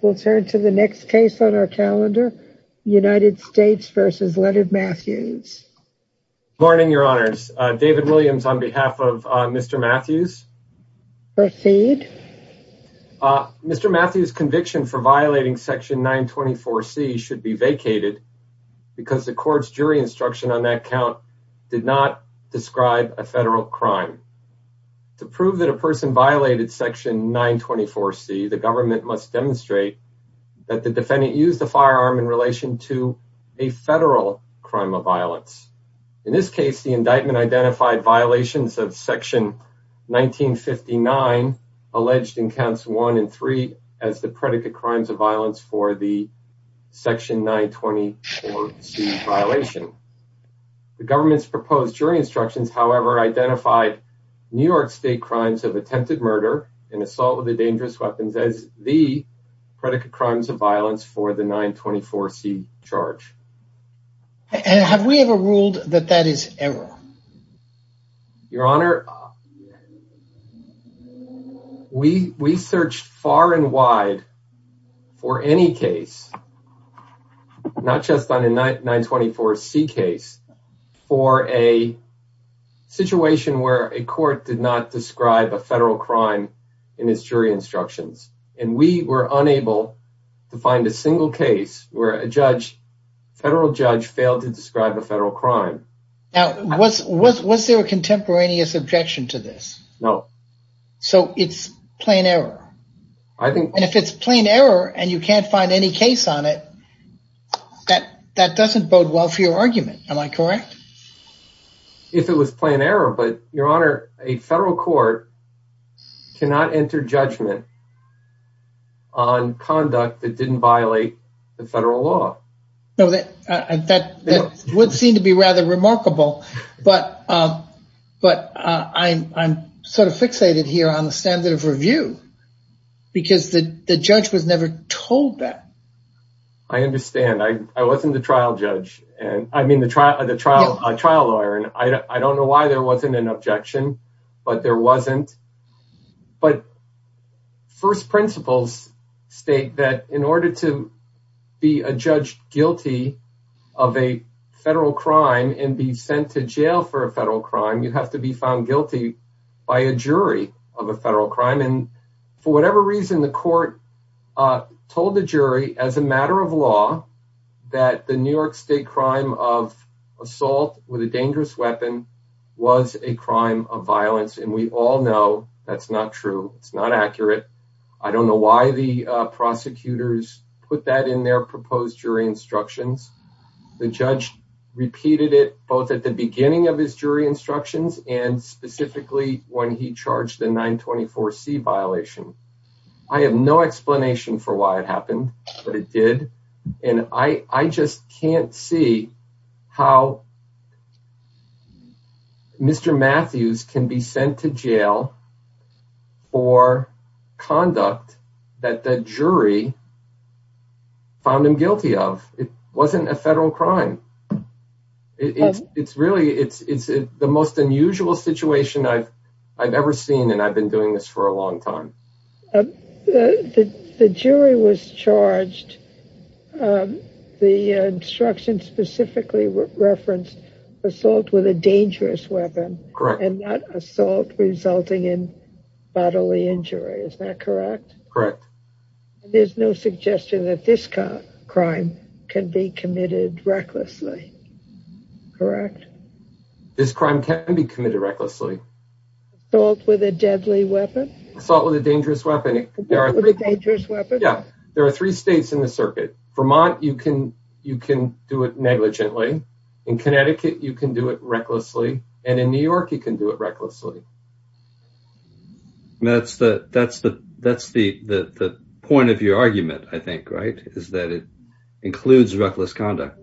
Morning, Your Honors. David Williams on behalf of Mr. Mathews. Proceed. Mr. Mathews' conviction for violating Section 924C should be vacated because the court's jury instruction on that count did not describe a federal crime. To prove that a person violated Section 924C, the government must demonstrate that the defendant used a firearm in relation to a federal crime of violence. In this case, the indictment identified violations of Section 1959, alleged in Counts 1 and 3, as the predicate crimes of violence for the Section 924C violation. The government's proposed jury instructions, however, identified New York State crimes of attempted murder and assault with a dangerous weapon as the predicate crimes of violence for the 924C charge. Have we ever ruled that that is error? Your Honor, we searched far and wide for any case, not just on the 924C case, for a situation where a court did not describe a federal crime in its jury instructions. And we were unable to find a single case where a federal judge failed to describe a federal crime. Now, was there a contemporaneous objection to this? No. So it's plain error. And if it's plain error and you can't find any case on it, that doesn't bode well for your argument. Am I correct? If it was plain error, but Your Honor, a federal court cannot enter judgment on conduct that didn't violate the federal law. No, that would seem to be rather remarkable. But I'm sort of fixated here on the standard of review because the judge was never told that. I understand. I wasn't the trial judge. I mean, the trial lawyer. And I don't know why there wasn't an objection, but there wasn't. But first principles state that in order to be a judge guilty of a federal crime and be sent to jail for a federal crime, you have to be found guilty by a jury of a federal crime. And for whatever reason, the court told the jury as a matter of law that the New York State crime of assault with a dangerous weapon was a crime of violence. And we all know that's not true. It's not accurate. I don't know why the prosecutors put that in their proposed jury instructions. The judge repeated it both at the beginning of his jury instructions and specifically when he charged the 924 C violation. I have no explanation for why it happened, but it did. And I just can't see how Mr. Matthews can be sent to jail for conduct that the jury found him guilty of. It wasn't a federal crime. It's really it's the most unusual situation I've ever seen. And I've been doing this for a long time. The jury was charged. The instruction specifically referenced assault with a dangerous weapon and not assault resulting in bodily injury. Is that correct? Correct. There's no suggestion that this crime can be committed recklessly. Correct. This crime can be committed recklessly. Assault with a deadly weapon. Assault with a dangerous weapon. Assault with a dangerous weapon. Yeah. There are three states in the circuit. Vermont, you can do it negligently. In Connecticut, you can do it recklessly. And in New York, you can do it recklessly. That's the point of your argument, I think, right, is that it includes reckless conduct.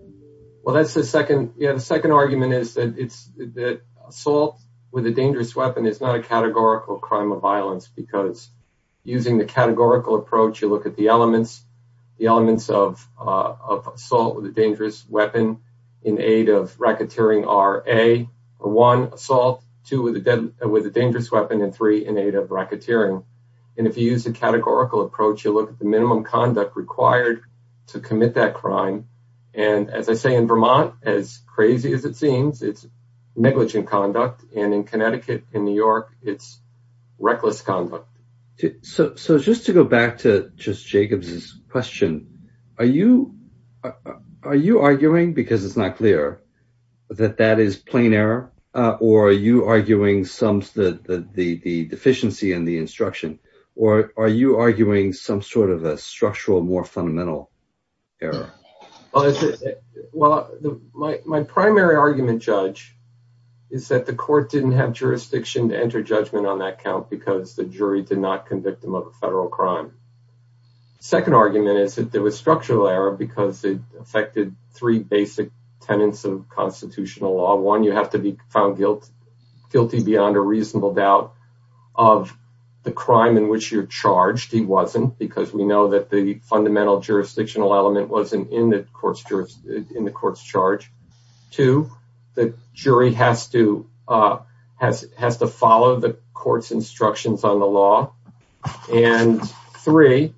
Well, that's the second. Yeah. The second argument is that it's that assault with a dangerous weapon is not a categorical crime of violence because using the categorical approach, you look at the elements, the elements of assault with a dangerous weapon in aid of racketeering are a one assault to with a with a dangerous weapon and three in aid of racketeering. And if you use a categorical approach, you look at the minimum conduct required to commit that crime. And as I say, in Vermont, as crazy as it seems, it's negligent conduct. And in Connecticut, in New York, it's reckless conduct. So just to go back to just Jacobs's question, are you are you arguing because it's not clear that that is plain error or are you arguing some of the deficiency in the instruction or are you arguing some sort of a structural, more fundamental error? Well, my primary argument, Judge, is that the court didn't have jurisdiction to enter judgment on that count because the jury did not convict him of a federal crime. Second argument is that there was structural error because it affected three basic tenets of constitutional law. One, you have to be found guilty beyond a reasonable doubt of the crime in which you're charged. He wasn't because we know that the fundamental jurisdictional element wasn't in the court's jury in the court's charge to the jury has to has has to follow the court's instructions on the law. And three.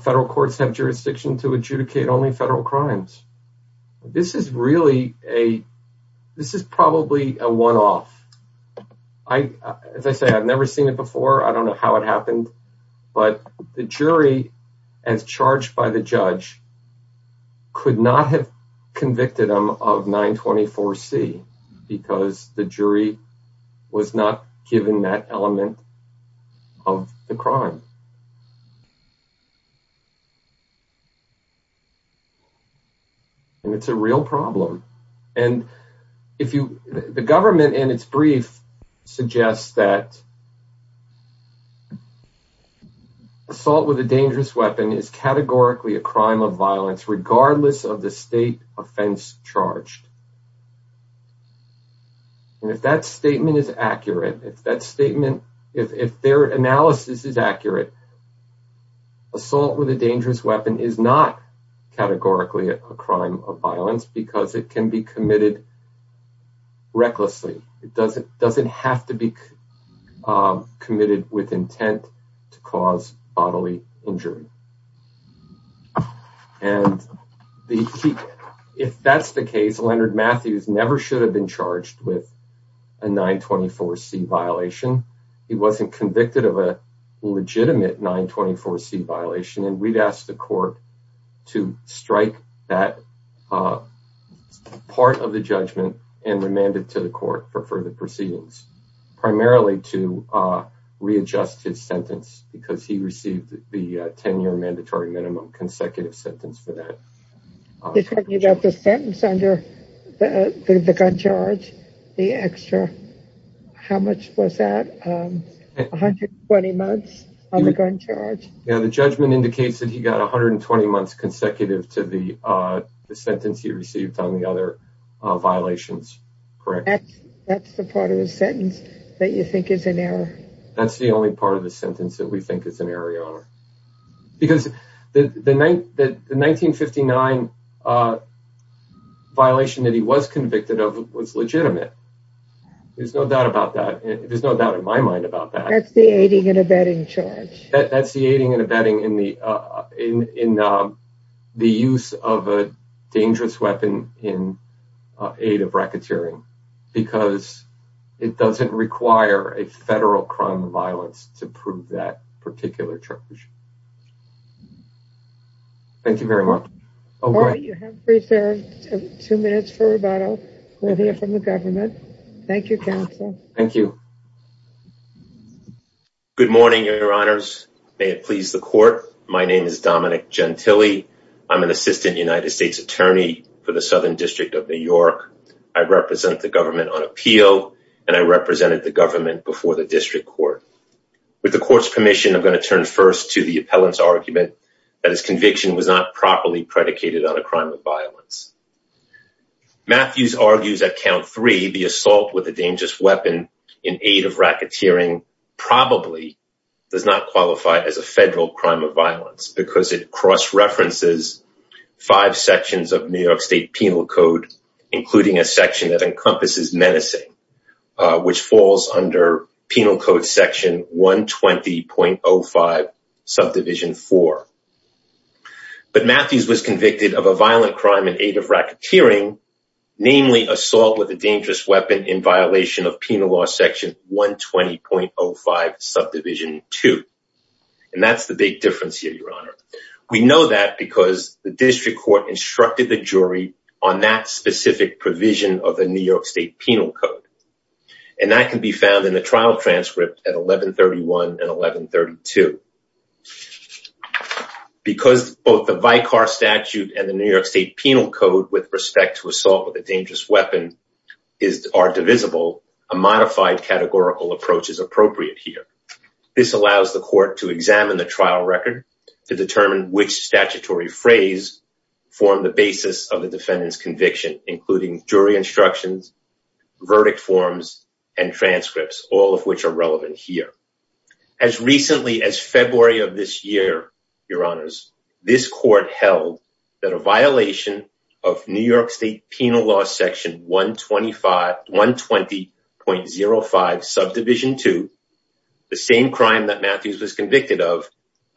Federal courts have jurisdiction to adjudicate only federal crimes. This is really a this is probably a one off. I, as I say, I've never seen it before. I don't know how it happened, but the jury, as charged by the judge, could not have convicted him of 924 C because the jury was not given that element of the crime. And it's a real problem. And if you the government and its brief suggests that. Assault with a dangerous weapon is categorically a crime of violence, regardless of the state offense charged. And if that statement is accurate, if that statement if their analysis is accurate. Assault with a dangerous weapon is not categorically a crime of violence because it can be committed. Recklessly, it doesn't doesn't have to be committed with intent to cause bodily injury. And if that's the case, Leonard Matthews never should have been charged with a 924 C violation. He wasn't convicted of a legitimate 924 C violation. And we've asked the court to strike that part of the judgment and remanded to the court for further proceedings, primarily to readjust his sentence because he received the 10 year mandatory minimum consecutive sentence for that. You got the sentence under the gun charge, the extra. How much was that? 120 months on the gun charge. Now, the judgment indicates that he got 120 months consecutive to the sentence he received on the other violations. Correct. That's the part of the sentence that you think is an error. That's the only part of the sentence that we think is an area. Because the night that the 1959 violation that he was convicted of was legitimate. There's no doubt about that. There's no doubt in my mind about that. That's the aiding and abetting charge. Thank you very much. You have two minutes for rebuttal. We'll hear from the government. Thank you, counsel. Thank you. Good morning, your honors. May it please the court. My name is Dominic Gentile. I'm an assistant United States attorney for the Southern District of New York. I represent the government on appeal, and I represented the government before the district court. With the court's permission, I'm going to turn first to the appellant's argument that his conviction was not properly predicated on a crime of violence. Matthews argues at count three, the assault with a dangerous weapon in aid of racketeering probably does not qualify as a federal crime of violence. Because it cross-references five sections of New York State Penal Code, including a section that encompasses menacing. Which falls under Penal Code section 120.05 subdivision four. But Matthews was convicted of a violent crime in aid of racketeering, namely assault with a dangerous weapon in violation of Penal Law section 120.05 subdivision two. And that's the big difference here, your honor. We know that because the district court instructed the jury on that specific provision of the New York State Penal Code. And that can be found in the trial transcript at 1131 and 1132. Because both the Vicar Statute and the New York State Penal Code with respect to assault with a dangerous weapon are divisible, a modified categorical approach is appropriate here. This allows the court to examine the trial record to determine which statutory phrase form the basis of the defendant's conviction, including jury instructions, verdict forms, and transcripts, all of which are relevant here. As recently as February of this year, your honors, this court held that a violation of New York State Penal Law section 120.05 subdivision two, the same crime that Matthews was convicted of,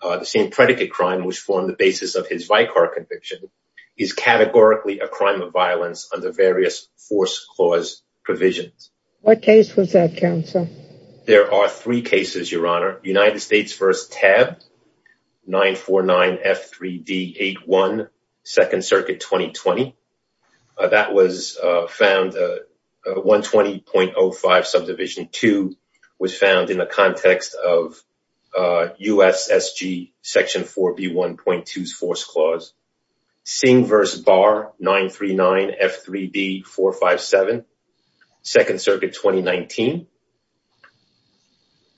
the same predicate crime which formed the basis of his Vicar conviction, is categorically a crime of violence under various force clause provisions. What case was that, counsel? There are three cases, your honor. United States v. TAB, 949F3D81, Second Circuit 2020. That was found, 120.05 subdivision two was found in the context of USSG section 4B1.2's force clause. Singh v. Barr, 939F3D457, Second Circuit 2019.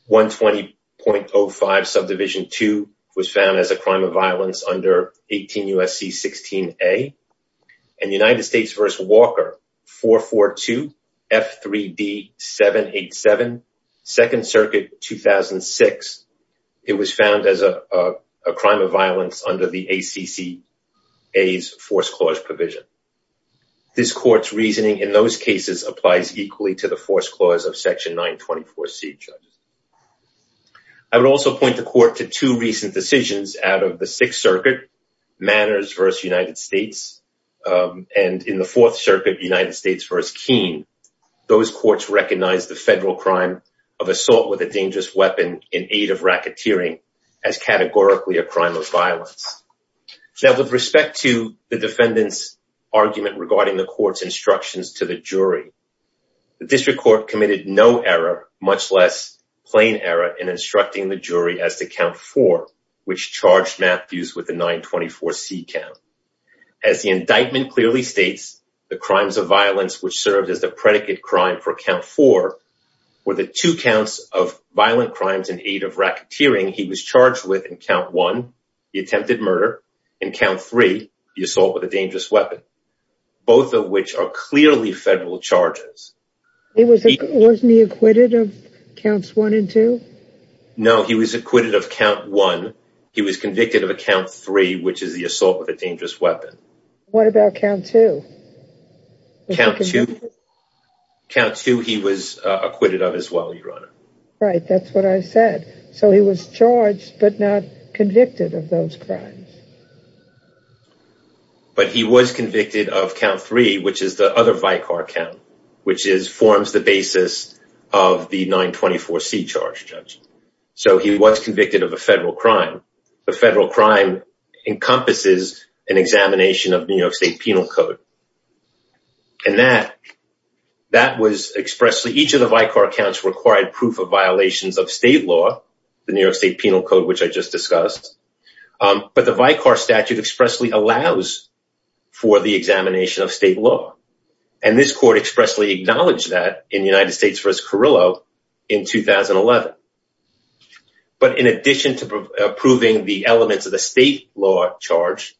120.05 subdivision two was found as a crime of violence under 18 U.S.C. 16A. And United States v. Walker, 442F3D787, Second Circuit 2006. It was found as a crime of violence under the ACCA's force clause provision. This court's reasoning in those cases applies equally to the force clause of section 924C, judges. I would also point the court to two recent decisions out of the Sixth Circuit, Manners v. United States, and in the Fourth Circuit, United States v. Keene. Those courts recognized the federal crime of assault with a dangerous weapon in aid of racketeering as categorically a crime of violence. Now, with respect to the defendant's argument regarding the court's instructions to the jury, the district court committed no error, much less plain error, in instructing the jury as to count four, which charged Matthews with the 924C count. As the indictment clearly states, the crimes of violence which served as the predicate crime for count four were the two counts of violent crimes in aid of racketeering he was charged with in count one. The attempted murder, and count three, the assault with a dangerous weapon. Both of which are clearly federal charges. Wasn't he acquitted of counts one and two? No, he was acquitted of count one. He was convicted of count three, which is the assault with a dangerous weapon. What about count two? Right, that's what I said. So he was charged, but not convicted of those crimes. But he was convicted of count three, which is the other Vicar count, which forms the basis of the 924C charge, Judge. So he was convicted of a federal crime. The federal crime encompasses an examination of New York State Penal Code. And that was expressly, each of the Vicar counts required proof of violations of state law, the New York State Penal Code, which I just discussed. But the Vicar statute expressly allows for the examination of state law. And this court expressly acknowledged that in United States v. Carrillo in 2011. But in addition to approving the elements of the state law charge,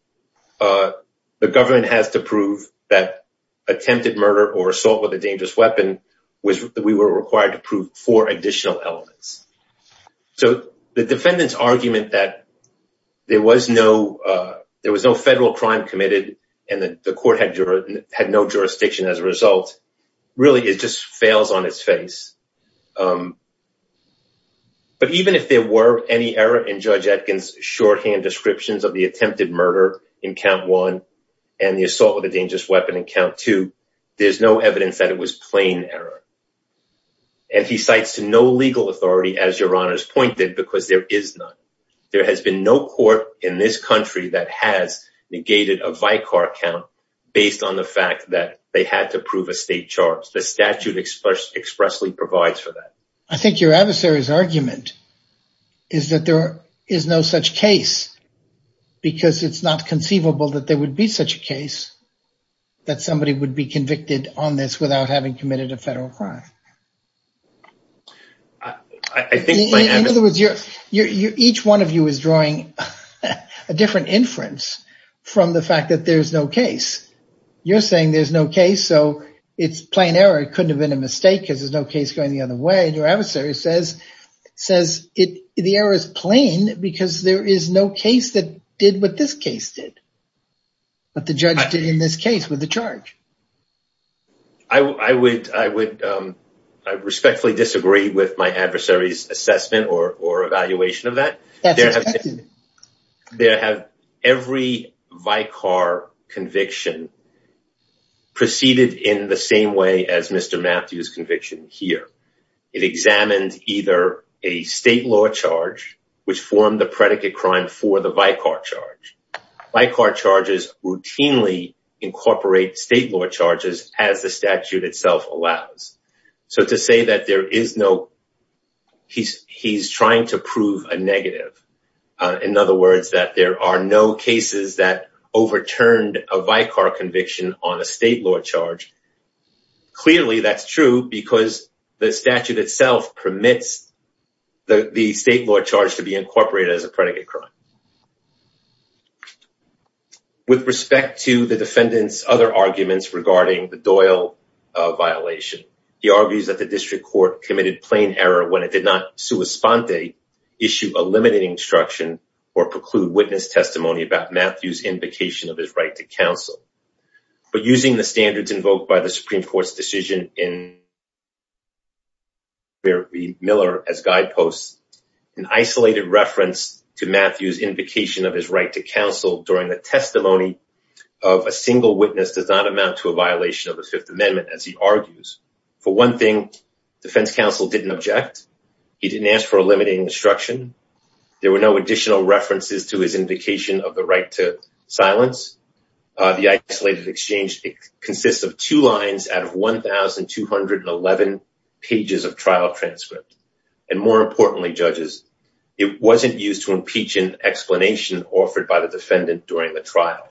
the government has to prove that attempted murder or assault with a dangerous weapon, we were required to prove four additional elements. So the defendant's argument that there was no federal crime committed and that the court had no jurisdiction as a result, really it just fails on its face. But even if there were any error in Judge Atkins' shorthand descriptions of the attempted murder in count one and the assault with a dangerous weapon in count two, there's no evidence that it was plain error. And he cites to no legal authority, as Your Honors pointed, because there is none. There has been no court in this country that has negated a Vicar count based on the fact that they had to prove a state charge. The statute expressly provides for that. I think your adversary's argument is that there is no such case because it's not conceivable that there would be such a case that somebody would be convicted on this without having committed a federal crime. In other words, each one of you is drawing a different inference from the fact that there's no case. You're saying there's no case, so it's plain error. It couldn't have been a mistake because there's no case going the other way. Your adversary says the error is plain because there is no case that did what this case did, what the judge did in this case with the charge. I respectfully disagree with my adversary's assessment or evaluation of that. That's expected. Every Vicar conviction proceeded in the same way as Mr. Matthews' conviction here. It examined either a state law charge, which formed the predicate crime for the Vicar charge. Vicar charges routinely incorporate state law charges as the statute itself allows. To say that he's trying to prove a negative, in other words, that there are no cases that overturned a Vicar conviction on a state law charge, clearly that's true because the statute itself permits the state law charge to be incorporated as a predicate crime. With respect to the defendant's other arguments regarding the Doyle violation, he argues that the district court committed plain error when it did not sua sponte, issue a limiting instruction, or preclude witness testimony about Matthews' invocation of his right to counsel. But using the standards invoked by the Supreme Court's decision in where Miller as guideposts, an isolated reference to Matthews' invocation of his right to counsel during the testimony of a single witness does not amount to a violation of the Fifth Amendment as he argues. For one thing, defense counsel didn't object. He didn't ask for a limiting instruction. There were no additional references to his invocation of the right to silence. The isolated exchange consists of two lines out of 1,211 pages of trial transcript. And more importantly, judges, it wasn't used to impeach an explanation offered by the defendant during the trial.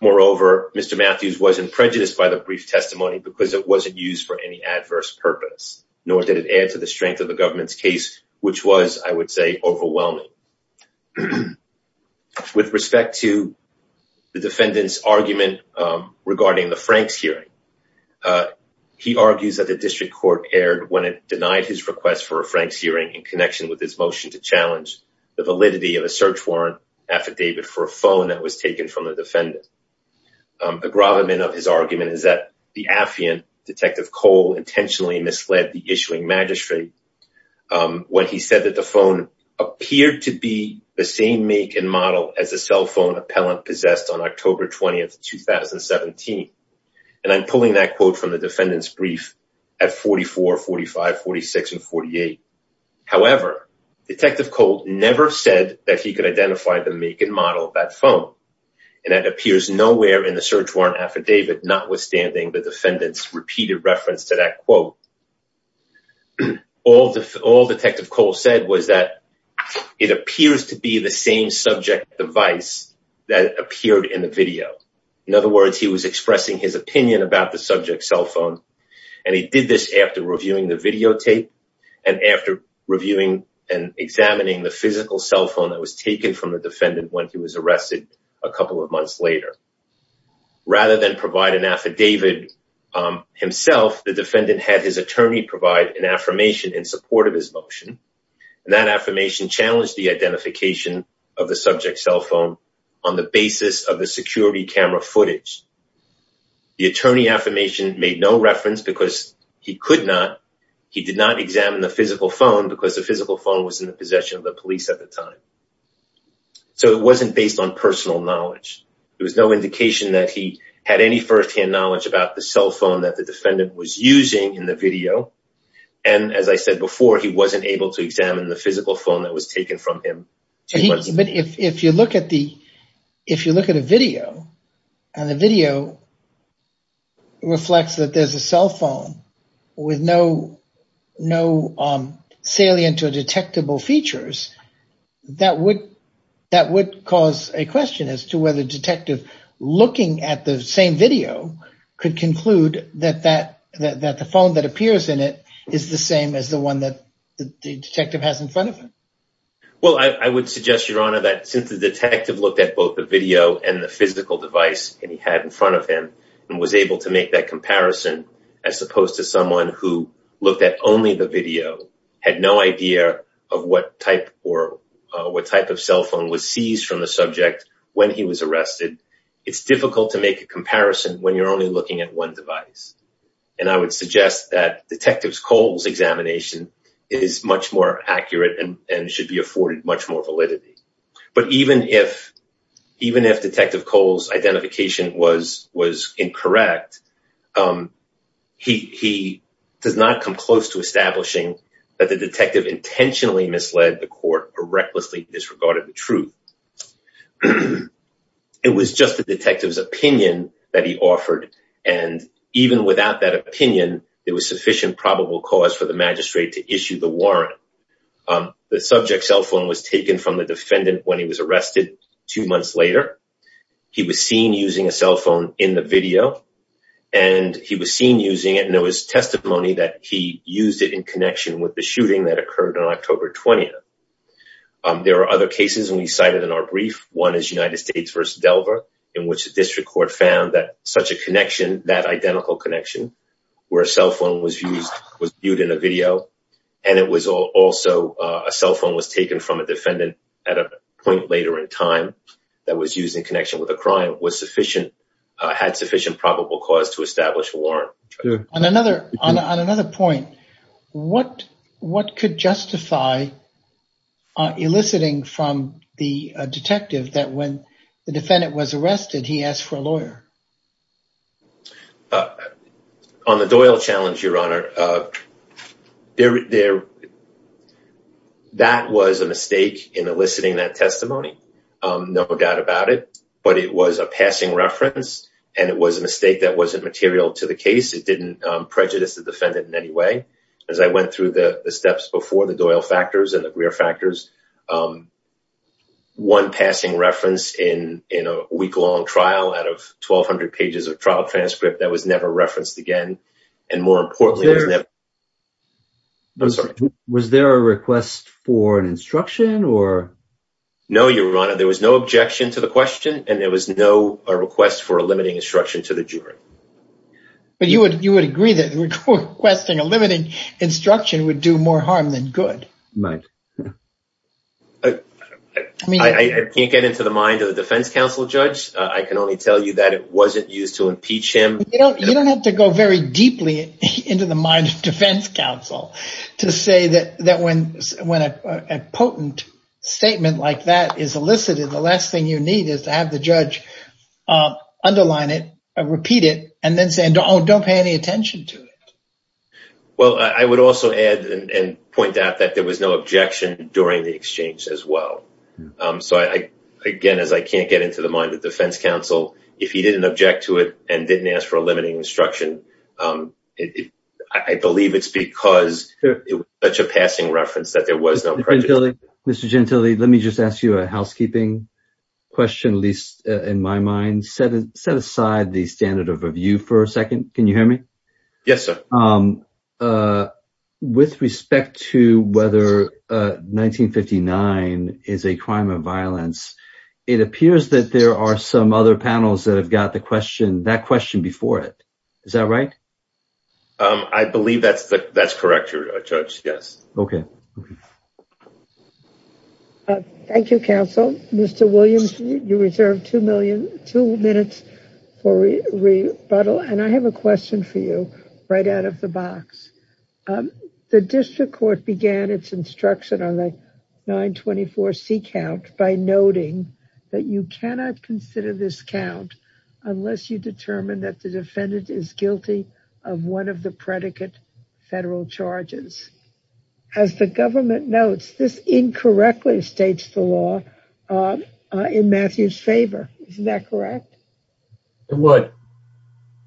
Moreover, Mr. Matthews wasn't prejudiced by the brief testimony because it wasn't used for any adverse purpose, nor did it add to the strength of the government's case, which was, I would say, overwhelming. With respect to the defendant's argument regarding the Franks hearing, he argues that the district court erred when it denied his request for a Franks hearing in connection with his motion to challenge the validity of a search warrant affidavit for a phone that was taken from the defendant. The gravamen of his argument is that the affiant, Detective Cole, intentionally misled the issuing magistrate when he said that the phone appeared to be the same make and model as the cell phone appellant possessed on October 20, 2017. And I'm pulling that quote from the defendant's brief at 44, 45, 46, and 48. However, Detective Cole never said that he could identify the make and model of that phone. And that appears nowhere in the search warrant affidavit, notwithstanding the defendant's repeated reference to that quote. All Detective Cole said was that it appears to be the same subject device that appeared in the video. In other words, he was expressing his opinion about the subject cell phone. And he did this after reviewing the videotape and after reviewing and examining the physical cell phone that was taken from the defendant when he was arrested a couple of months later. Rather than provide an affidavit himself, the defendant had his attorney provide an affirmation in support of his motion. And that affirmation challenged the identification of the subject cell phone on the basis of the security camera footage. The attorney affirmation made no reference because he could not. He did not examine the physical phone because the physical phone was in the possession of the police at the time. So it wasn't based on personal knowledge. There was no indication that he had any firsthand knowledge about the cell phone that the defendant was using in the video. And as I said before, he wasn't able to examine the physical phone that was taken from him. But if you look at a video and the video reflects that there's a cell phone with no salient or detectable features, that would cause a question as to whether a detective looking at the same video could conclude that the phone that appears in it is the same as the one that the detective has in front of him. Well, I would suggest, Your Honor, that since the detective looked at both the video and the physical device that he had in front of him and was able to make that comparison as opposed to someone who looked at only the video, had no idea of what type of cell phone was seized from the subject when he was arrested, it's difficult to make a comparison when you're only looking at one device. And I would suggest that Detective Cole's examination is much more accurate and should be afforded much more validity. But even if Detective Cole's identification was incorrect, he does not come close to establishing that the detective intentionally misled the court or recklessly disregarded the truth. It was just the detective's opinion that he offered, and even without that opinion, there was sufficient probable cause for the magistrate to issue the warrant. The subject's cell phone was taken from the defendant when he was arrested two months later. He was seen using a cell phone in the video, and he was seen using it, and there was testimony that he used it in connection with the shooting that occurred on October 20th. There are other cases we cited in our brief. One is United States v. Delver, in which the district court found that such a connection, that identical connection where a cell phone was viewed in a video, and it was also a cell phone was taken from a defendant at a point later in time that was used in connection with a crime, had sufficient probable cause to establish a warrant. On another point, what could justify eliciting from the detective that when the defendant was arrested, he asked for a lawyer? On the Doyle challenge, Your Honor, that was a mistake in eliciting that testimony. No doubt about it, but it was a passing reference, and it was a mistake that wasn't material to the case. It didn't prejudice the defendant in any way. As I went through the steps before, the Doyle factors and the Greer factors, one passing reference in a week-long trial out of 1,200 pages of trial transcript that was never referenced again, and more importantly... Was there a request for an instruction? No, Your Honor, there was no objection to the question, and there was no request for a limiting instruction to the jury. But you would agree that requesting a limiting instruction would do more harm than good. Right. I can't get into the mind of the defense counsel judge. I can only tell you that it wasn't used to impeach him. You don't have to go very deeply into the mind of defense counsel to say that when a potent statement like that is elicited, the last thing you need is to have the judge underline it, repeat it, and then say, oh, don't pay any attention to it. Well, I would also add and point out that there was no objection during the exchange as well. Again, as I can't get into the mind of defense counsel, if he didn't object to it and didn't ask for a limiting instruction, I believe it's because it was such a passing reference that there was no prejudice. Mr. Gentile, let me just ask you a housekeeping question, at least in my mind. Set aside the standard of review for a second. Can you hear me? Yes, sir. With respect to whether 1959 is a crime of violence, it appears that there are some other panels that have got that question before it. Is that right? I believe that's correct, Judge, yes. Okay. Thank you, counsel. Mr. Williams, you reserve two minutes for rebuttal, and I have a question for you right out of the box. The district court began its instruction on the 924C count by noting that you cannot consider this count unless you determine that the defendant is guilty of one of the predicate federal charges. As the government notes, this incorrectly states the law in Matthew's favor. Isn't that correct? It would.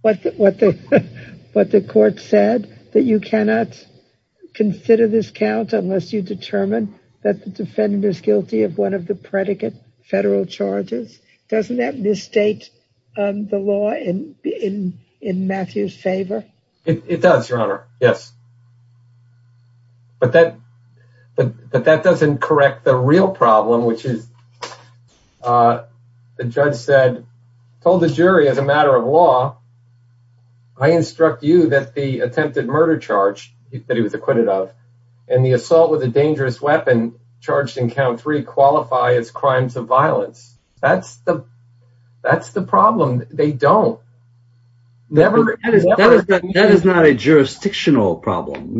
But the court said that you cannot consider this count unless you determine that the defendant is guilty of one of the predicate federal charges. Doesn't that misstate the law in Matthew's favor? It does, Your Honor, yes. But that doesn't correct the real problem, which is the judge said, told the jury as a matter of law, I instruct you that the attempted murder charge that he was acquitted of and the assault with a dangerous weapon charged in count three qualify as crimes of violence. That's the problem. They don't. That is not a jurisdictional problem.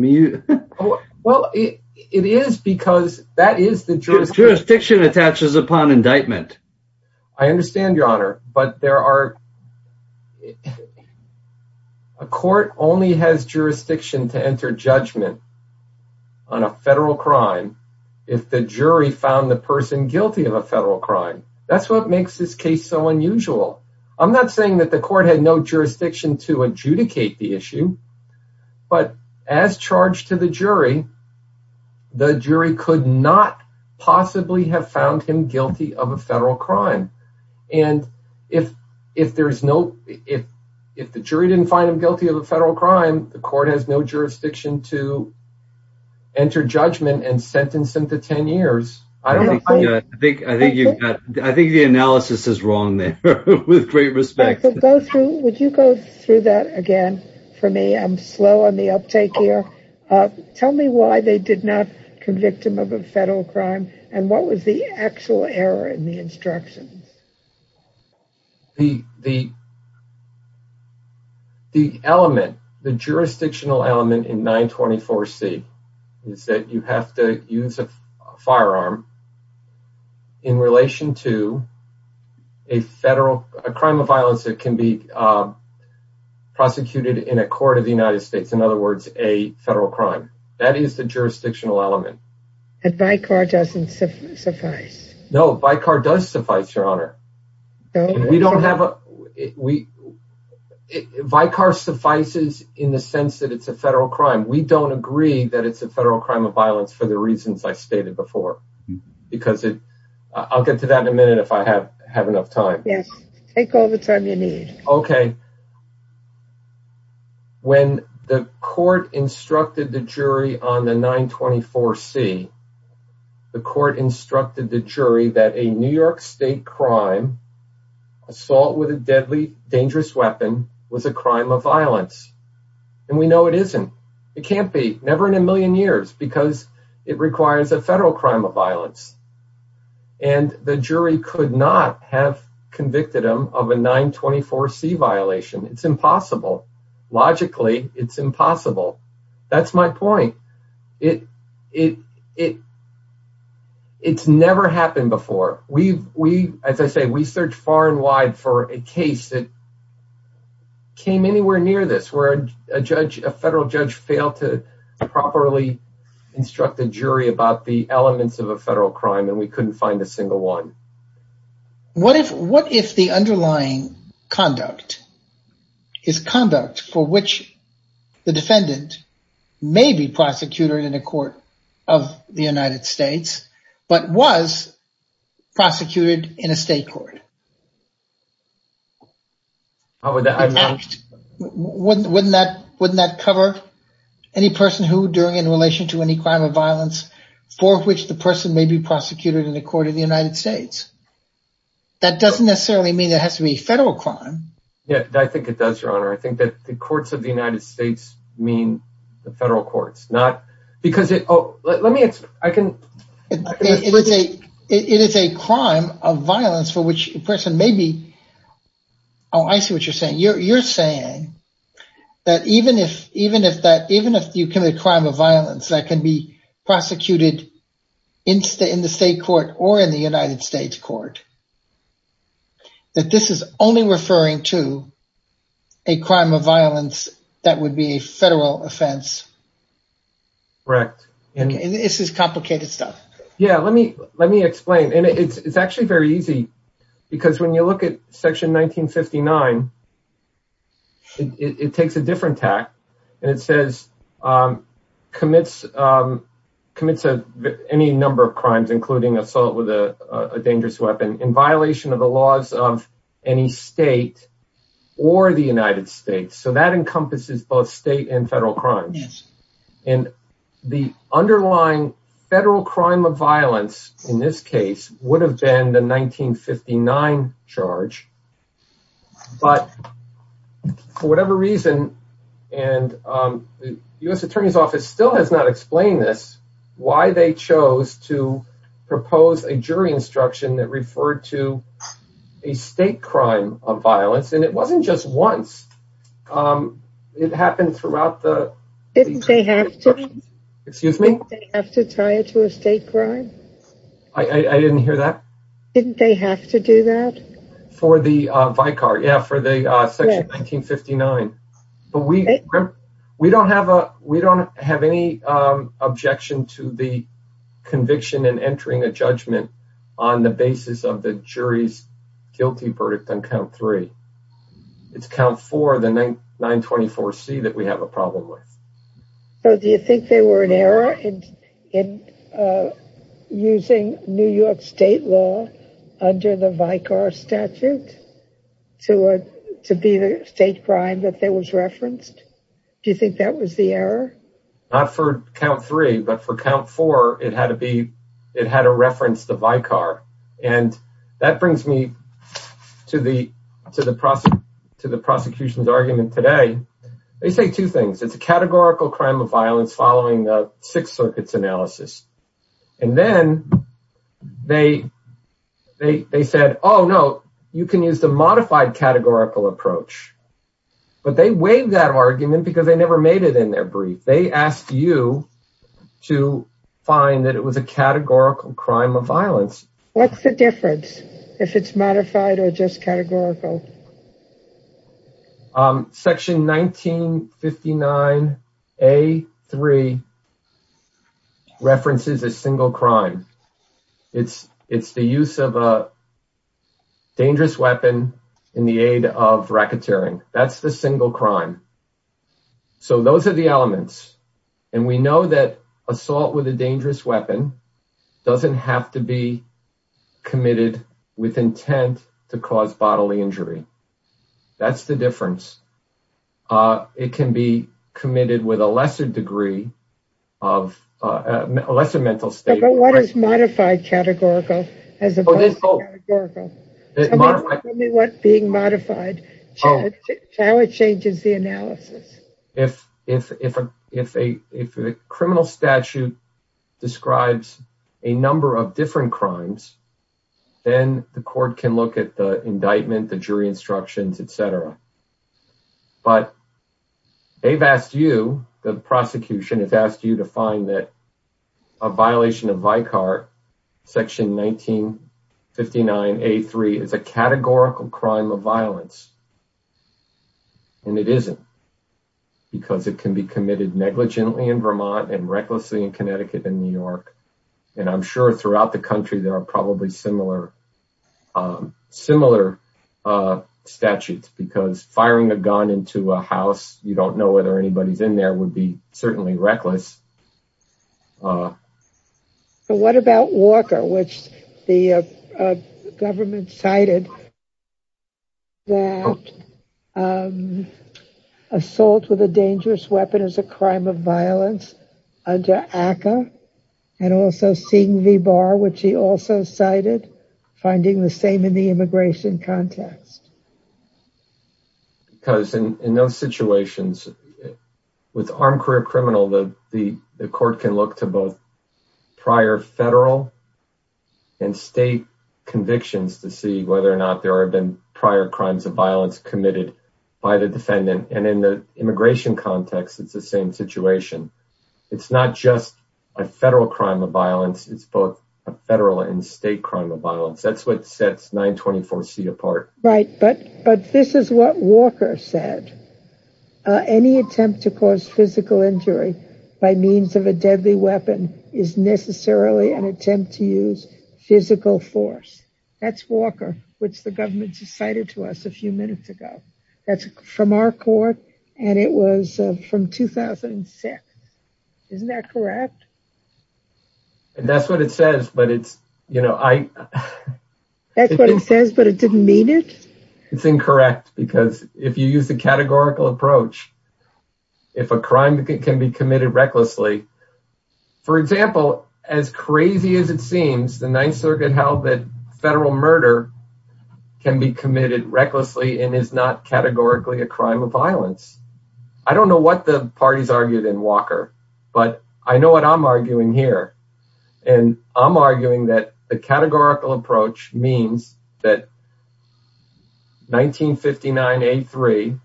Well, it is because that is the jurisdiction. Jurisdiction attaches upon indictment. I understand, Your Honor, but there are a court only has jurisdiction to enter judgment on a federal crime if the jury found the person guilty of a federal crime. Why is this case so unusual? I'm not saying that the court had no jurisdiction to adjudicate the issue, but as charged to the jury, the jury could not possibly have found him guilty of a federal crime. And if the jury didn't find him guilty of a federal crime, the court has no jurisdiction to enter judgment and sentence him to ten years. I think the analysis is wrong there, with great respect. Would you go through that again for me? I'm slow on the uptake here. Tell me why they did not convict him of a federal crime and what was the actual error in the instructions? The jurisdictional element in 924C is that you have to use a firearm in relation to a crime of violence that can be prosecuted in a court of the United States, in other words, a federal crime. That is the jurisdictional element. And Vicar doesn't suffice? No, Vicar does suffice, Your Honor. No? Vicar suffices in the sense that it's a federal crime. We don't agree that it's a federal crime of violence for the reasons I stated before. I'll get to that in a minute if I have enough time. Yes, take all the time you need. Okay. When the court instructed the jury on the 924C, the court instructed the jury that a New York State crime, assault with a deadly, dangerous weapon, was a crime of violence. And we know it isn't. It can't be, never in a million years, because it requires a federal crime of violence. And the jury could not have convicted him of a 924C violation. It's impossible. Logically, it's impossible. That's my point. It's never happened before. As I say, we searched far and wide for a case that came anywhere near this where a federal judge failed to properly instruct a jury about the elements of a federal crime, and we couldn't find a single one. What if the underlying conduct is conduct for which the defendant may be prosecuted in a court of the United States, but was prosecuted in a state court? Wouldn't that cover any person who, in relation to any crime of violence, for which the person may be prosecuted in a court of the United States? That doesn't necessarily mean it has to be a federal crime. Yeah, I think it does, Your Honor. I think that the courts of the United States not because it... It is a crime of violence for which a person may be... Oh, I see what you're saying. You're saying that even if you commit a crime of violence that can be prosecuted in the state court or in the United States court, that this is only referring to a crime of violence that would be a federal offense. Correct. This is complicated stuff. Yeah, let me explain. It's actually very easy because when you look at Section 1959, it takes a different tact. It says, commits any number of crimes, including assault with a dangerous weapon, in violation of the laws of any state or the United States. That encompasses both state and federal crimes. The underlying federal crime of violence, in this case, would have been the 1959 charge. But for whatever reason, and the U.S. Attorney's Office still has not explained this, why they chose to propose a jury instruction that referred to a state crime of violence, and it wasn't just once. It happened throughout the... Didn't they have to? Excuse me? Didn't they have to tie it to a state crime? I didn't hear that. Didn't they have to do that? For the Vicar. Yeah, for the Section 1959. But we don't have any objection to the conviction and entering a judgment on the basis of the jury's guilty verdict on Count 3. It's Count 4, the 924C, that we have a problem with. So do you think there were an error in using New York State law under the Vicar statute to be the state crime that was referenced? Do you think that was the error? Not for Count 3, but for Count 4, it had to reference the Vicar. And that brings me to the prosecution's argument today. They say two things. Categorical crime of violence following the Sixth Circuit's analysis. And then they said, oh, no, you can use the modified categorical approach. But they waived that argument because they never made it in their brief. They asked you to find that it was a categorical crime of violence. What's the difference if it's modified or just categorical? Section 1959A3 references a single crime. It's the use of a dangerous weapon in the aid of racketeering. That's the single crime. So those are the elements. And we know that assault with a dangerous weapon doesn't have to be committed with intent to cause bodily injury. That's the difference. It can be committed with a lesser degree of, a lesser mental state. But what is modified categorical as opposed to categorical? Tell me what's being modified. How it changes the analysis. If a criminal statute describes a number of different crimes, then the court can look at the indictment, the jury instructions, etc. But they've asked you, the prosecution has asked you to find that a violation of Vicar, Section 1959A3, is a categorical crime of violence. And it isn't because it can be committed negligently in Vermont and recklessly in Connecticut and New York. And I'm sure throughout the country there are probably similar, similar statutes because firing a gun into a house, you don't know whether anybody's in there, would be certainly reckless. So what about Walker, which the government cited that assault with a dangerous weapon is a crime of violence under ACA and also Sing V. Barr, which he also cited, finding the same in the immigration context. Because in those situations with armed career criminal, the court can look to both prior federal and state convictions to see whether or not there have been prior crimes of violence committed by the defendant. it's the same situation. It's not just a federal crime of violence. It's a federal and state crime of violence. That's what sets 924C apart. Right, but this is what Walker said. Any attempt to cause physical injury by means of a deadly weapon is necessarily an attempt to use physical force. That's Walker, which the government cited to us a few minutes ago. That's from our court and it was from 2006. Isn't that correct? That's what it says, but it's, you know, I... That's what it says, but it didn't mean it? It's incorrect because if you use the categorical approach, if a crime can be committed recklessly, for example, as crazy as it seems, the 9th Circuit held that federal murder can be committed recklessly and is not categorically a crime of violence. I don't know what the parties argued in Walker, but I know what I'm arguing here. And I'm arguing that the categorical approach means that 1959A3,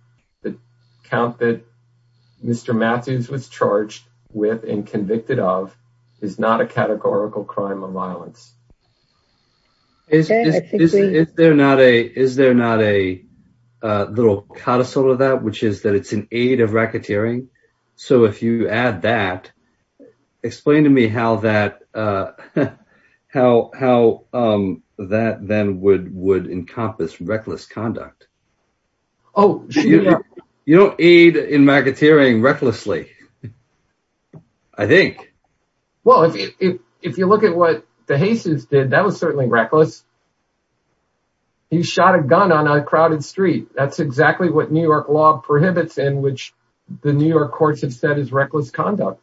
the count that Mr. Matthews was charged with and convicted of, is not a categorical crime of violence. Is there not a... Is there not a little codicil of that, which is that it's an aid of racketeering? So if you add that, explain to me how that, how that then would encompass reckless conduct. Oh, sure. You don't aid in racketeering recklessly. I think. Well, if you look at what DeJesus did, that was certainly reckless. He shot a gun on a crowded street. That's exactly what New York law prohibits and which the New York courts have said is reckless conduct.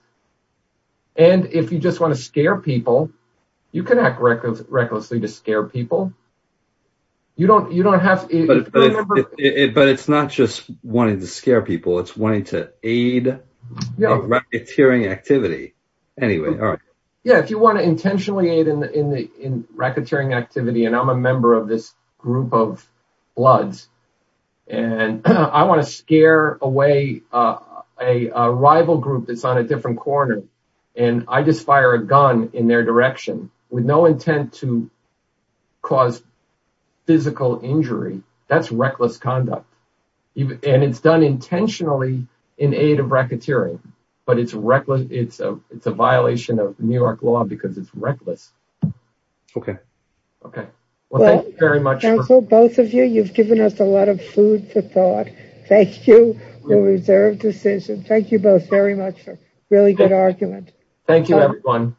And if you just want to scare people, you can act recklessly to scare people. You don't have to... But it's not just wanting to scare people. It's wanting to aid in racketeering activity. Anyway, all right. Yeah, if you want to intentionally aid in racketeering activity, and I'm a member of this group of bloods, and I want to scare away a rival group that's on a different corner, and I just fire a gun in their direction with no intent to cause physical injury, that's reckless conduct. And it's done intentionally in aid of racketeering, but it's reckless. It's a violation of New York law because it's reckless. Okay. Well, thank you very much. It's a thought. Thank you, the reserved decision. Thank you both very much for a really good argument. Thank you, everyone.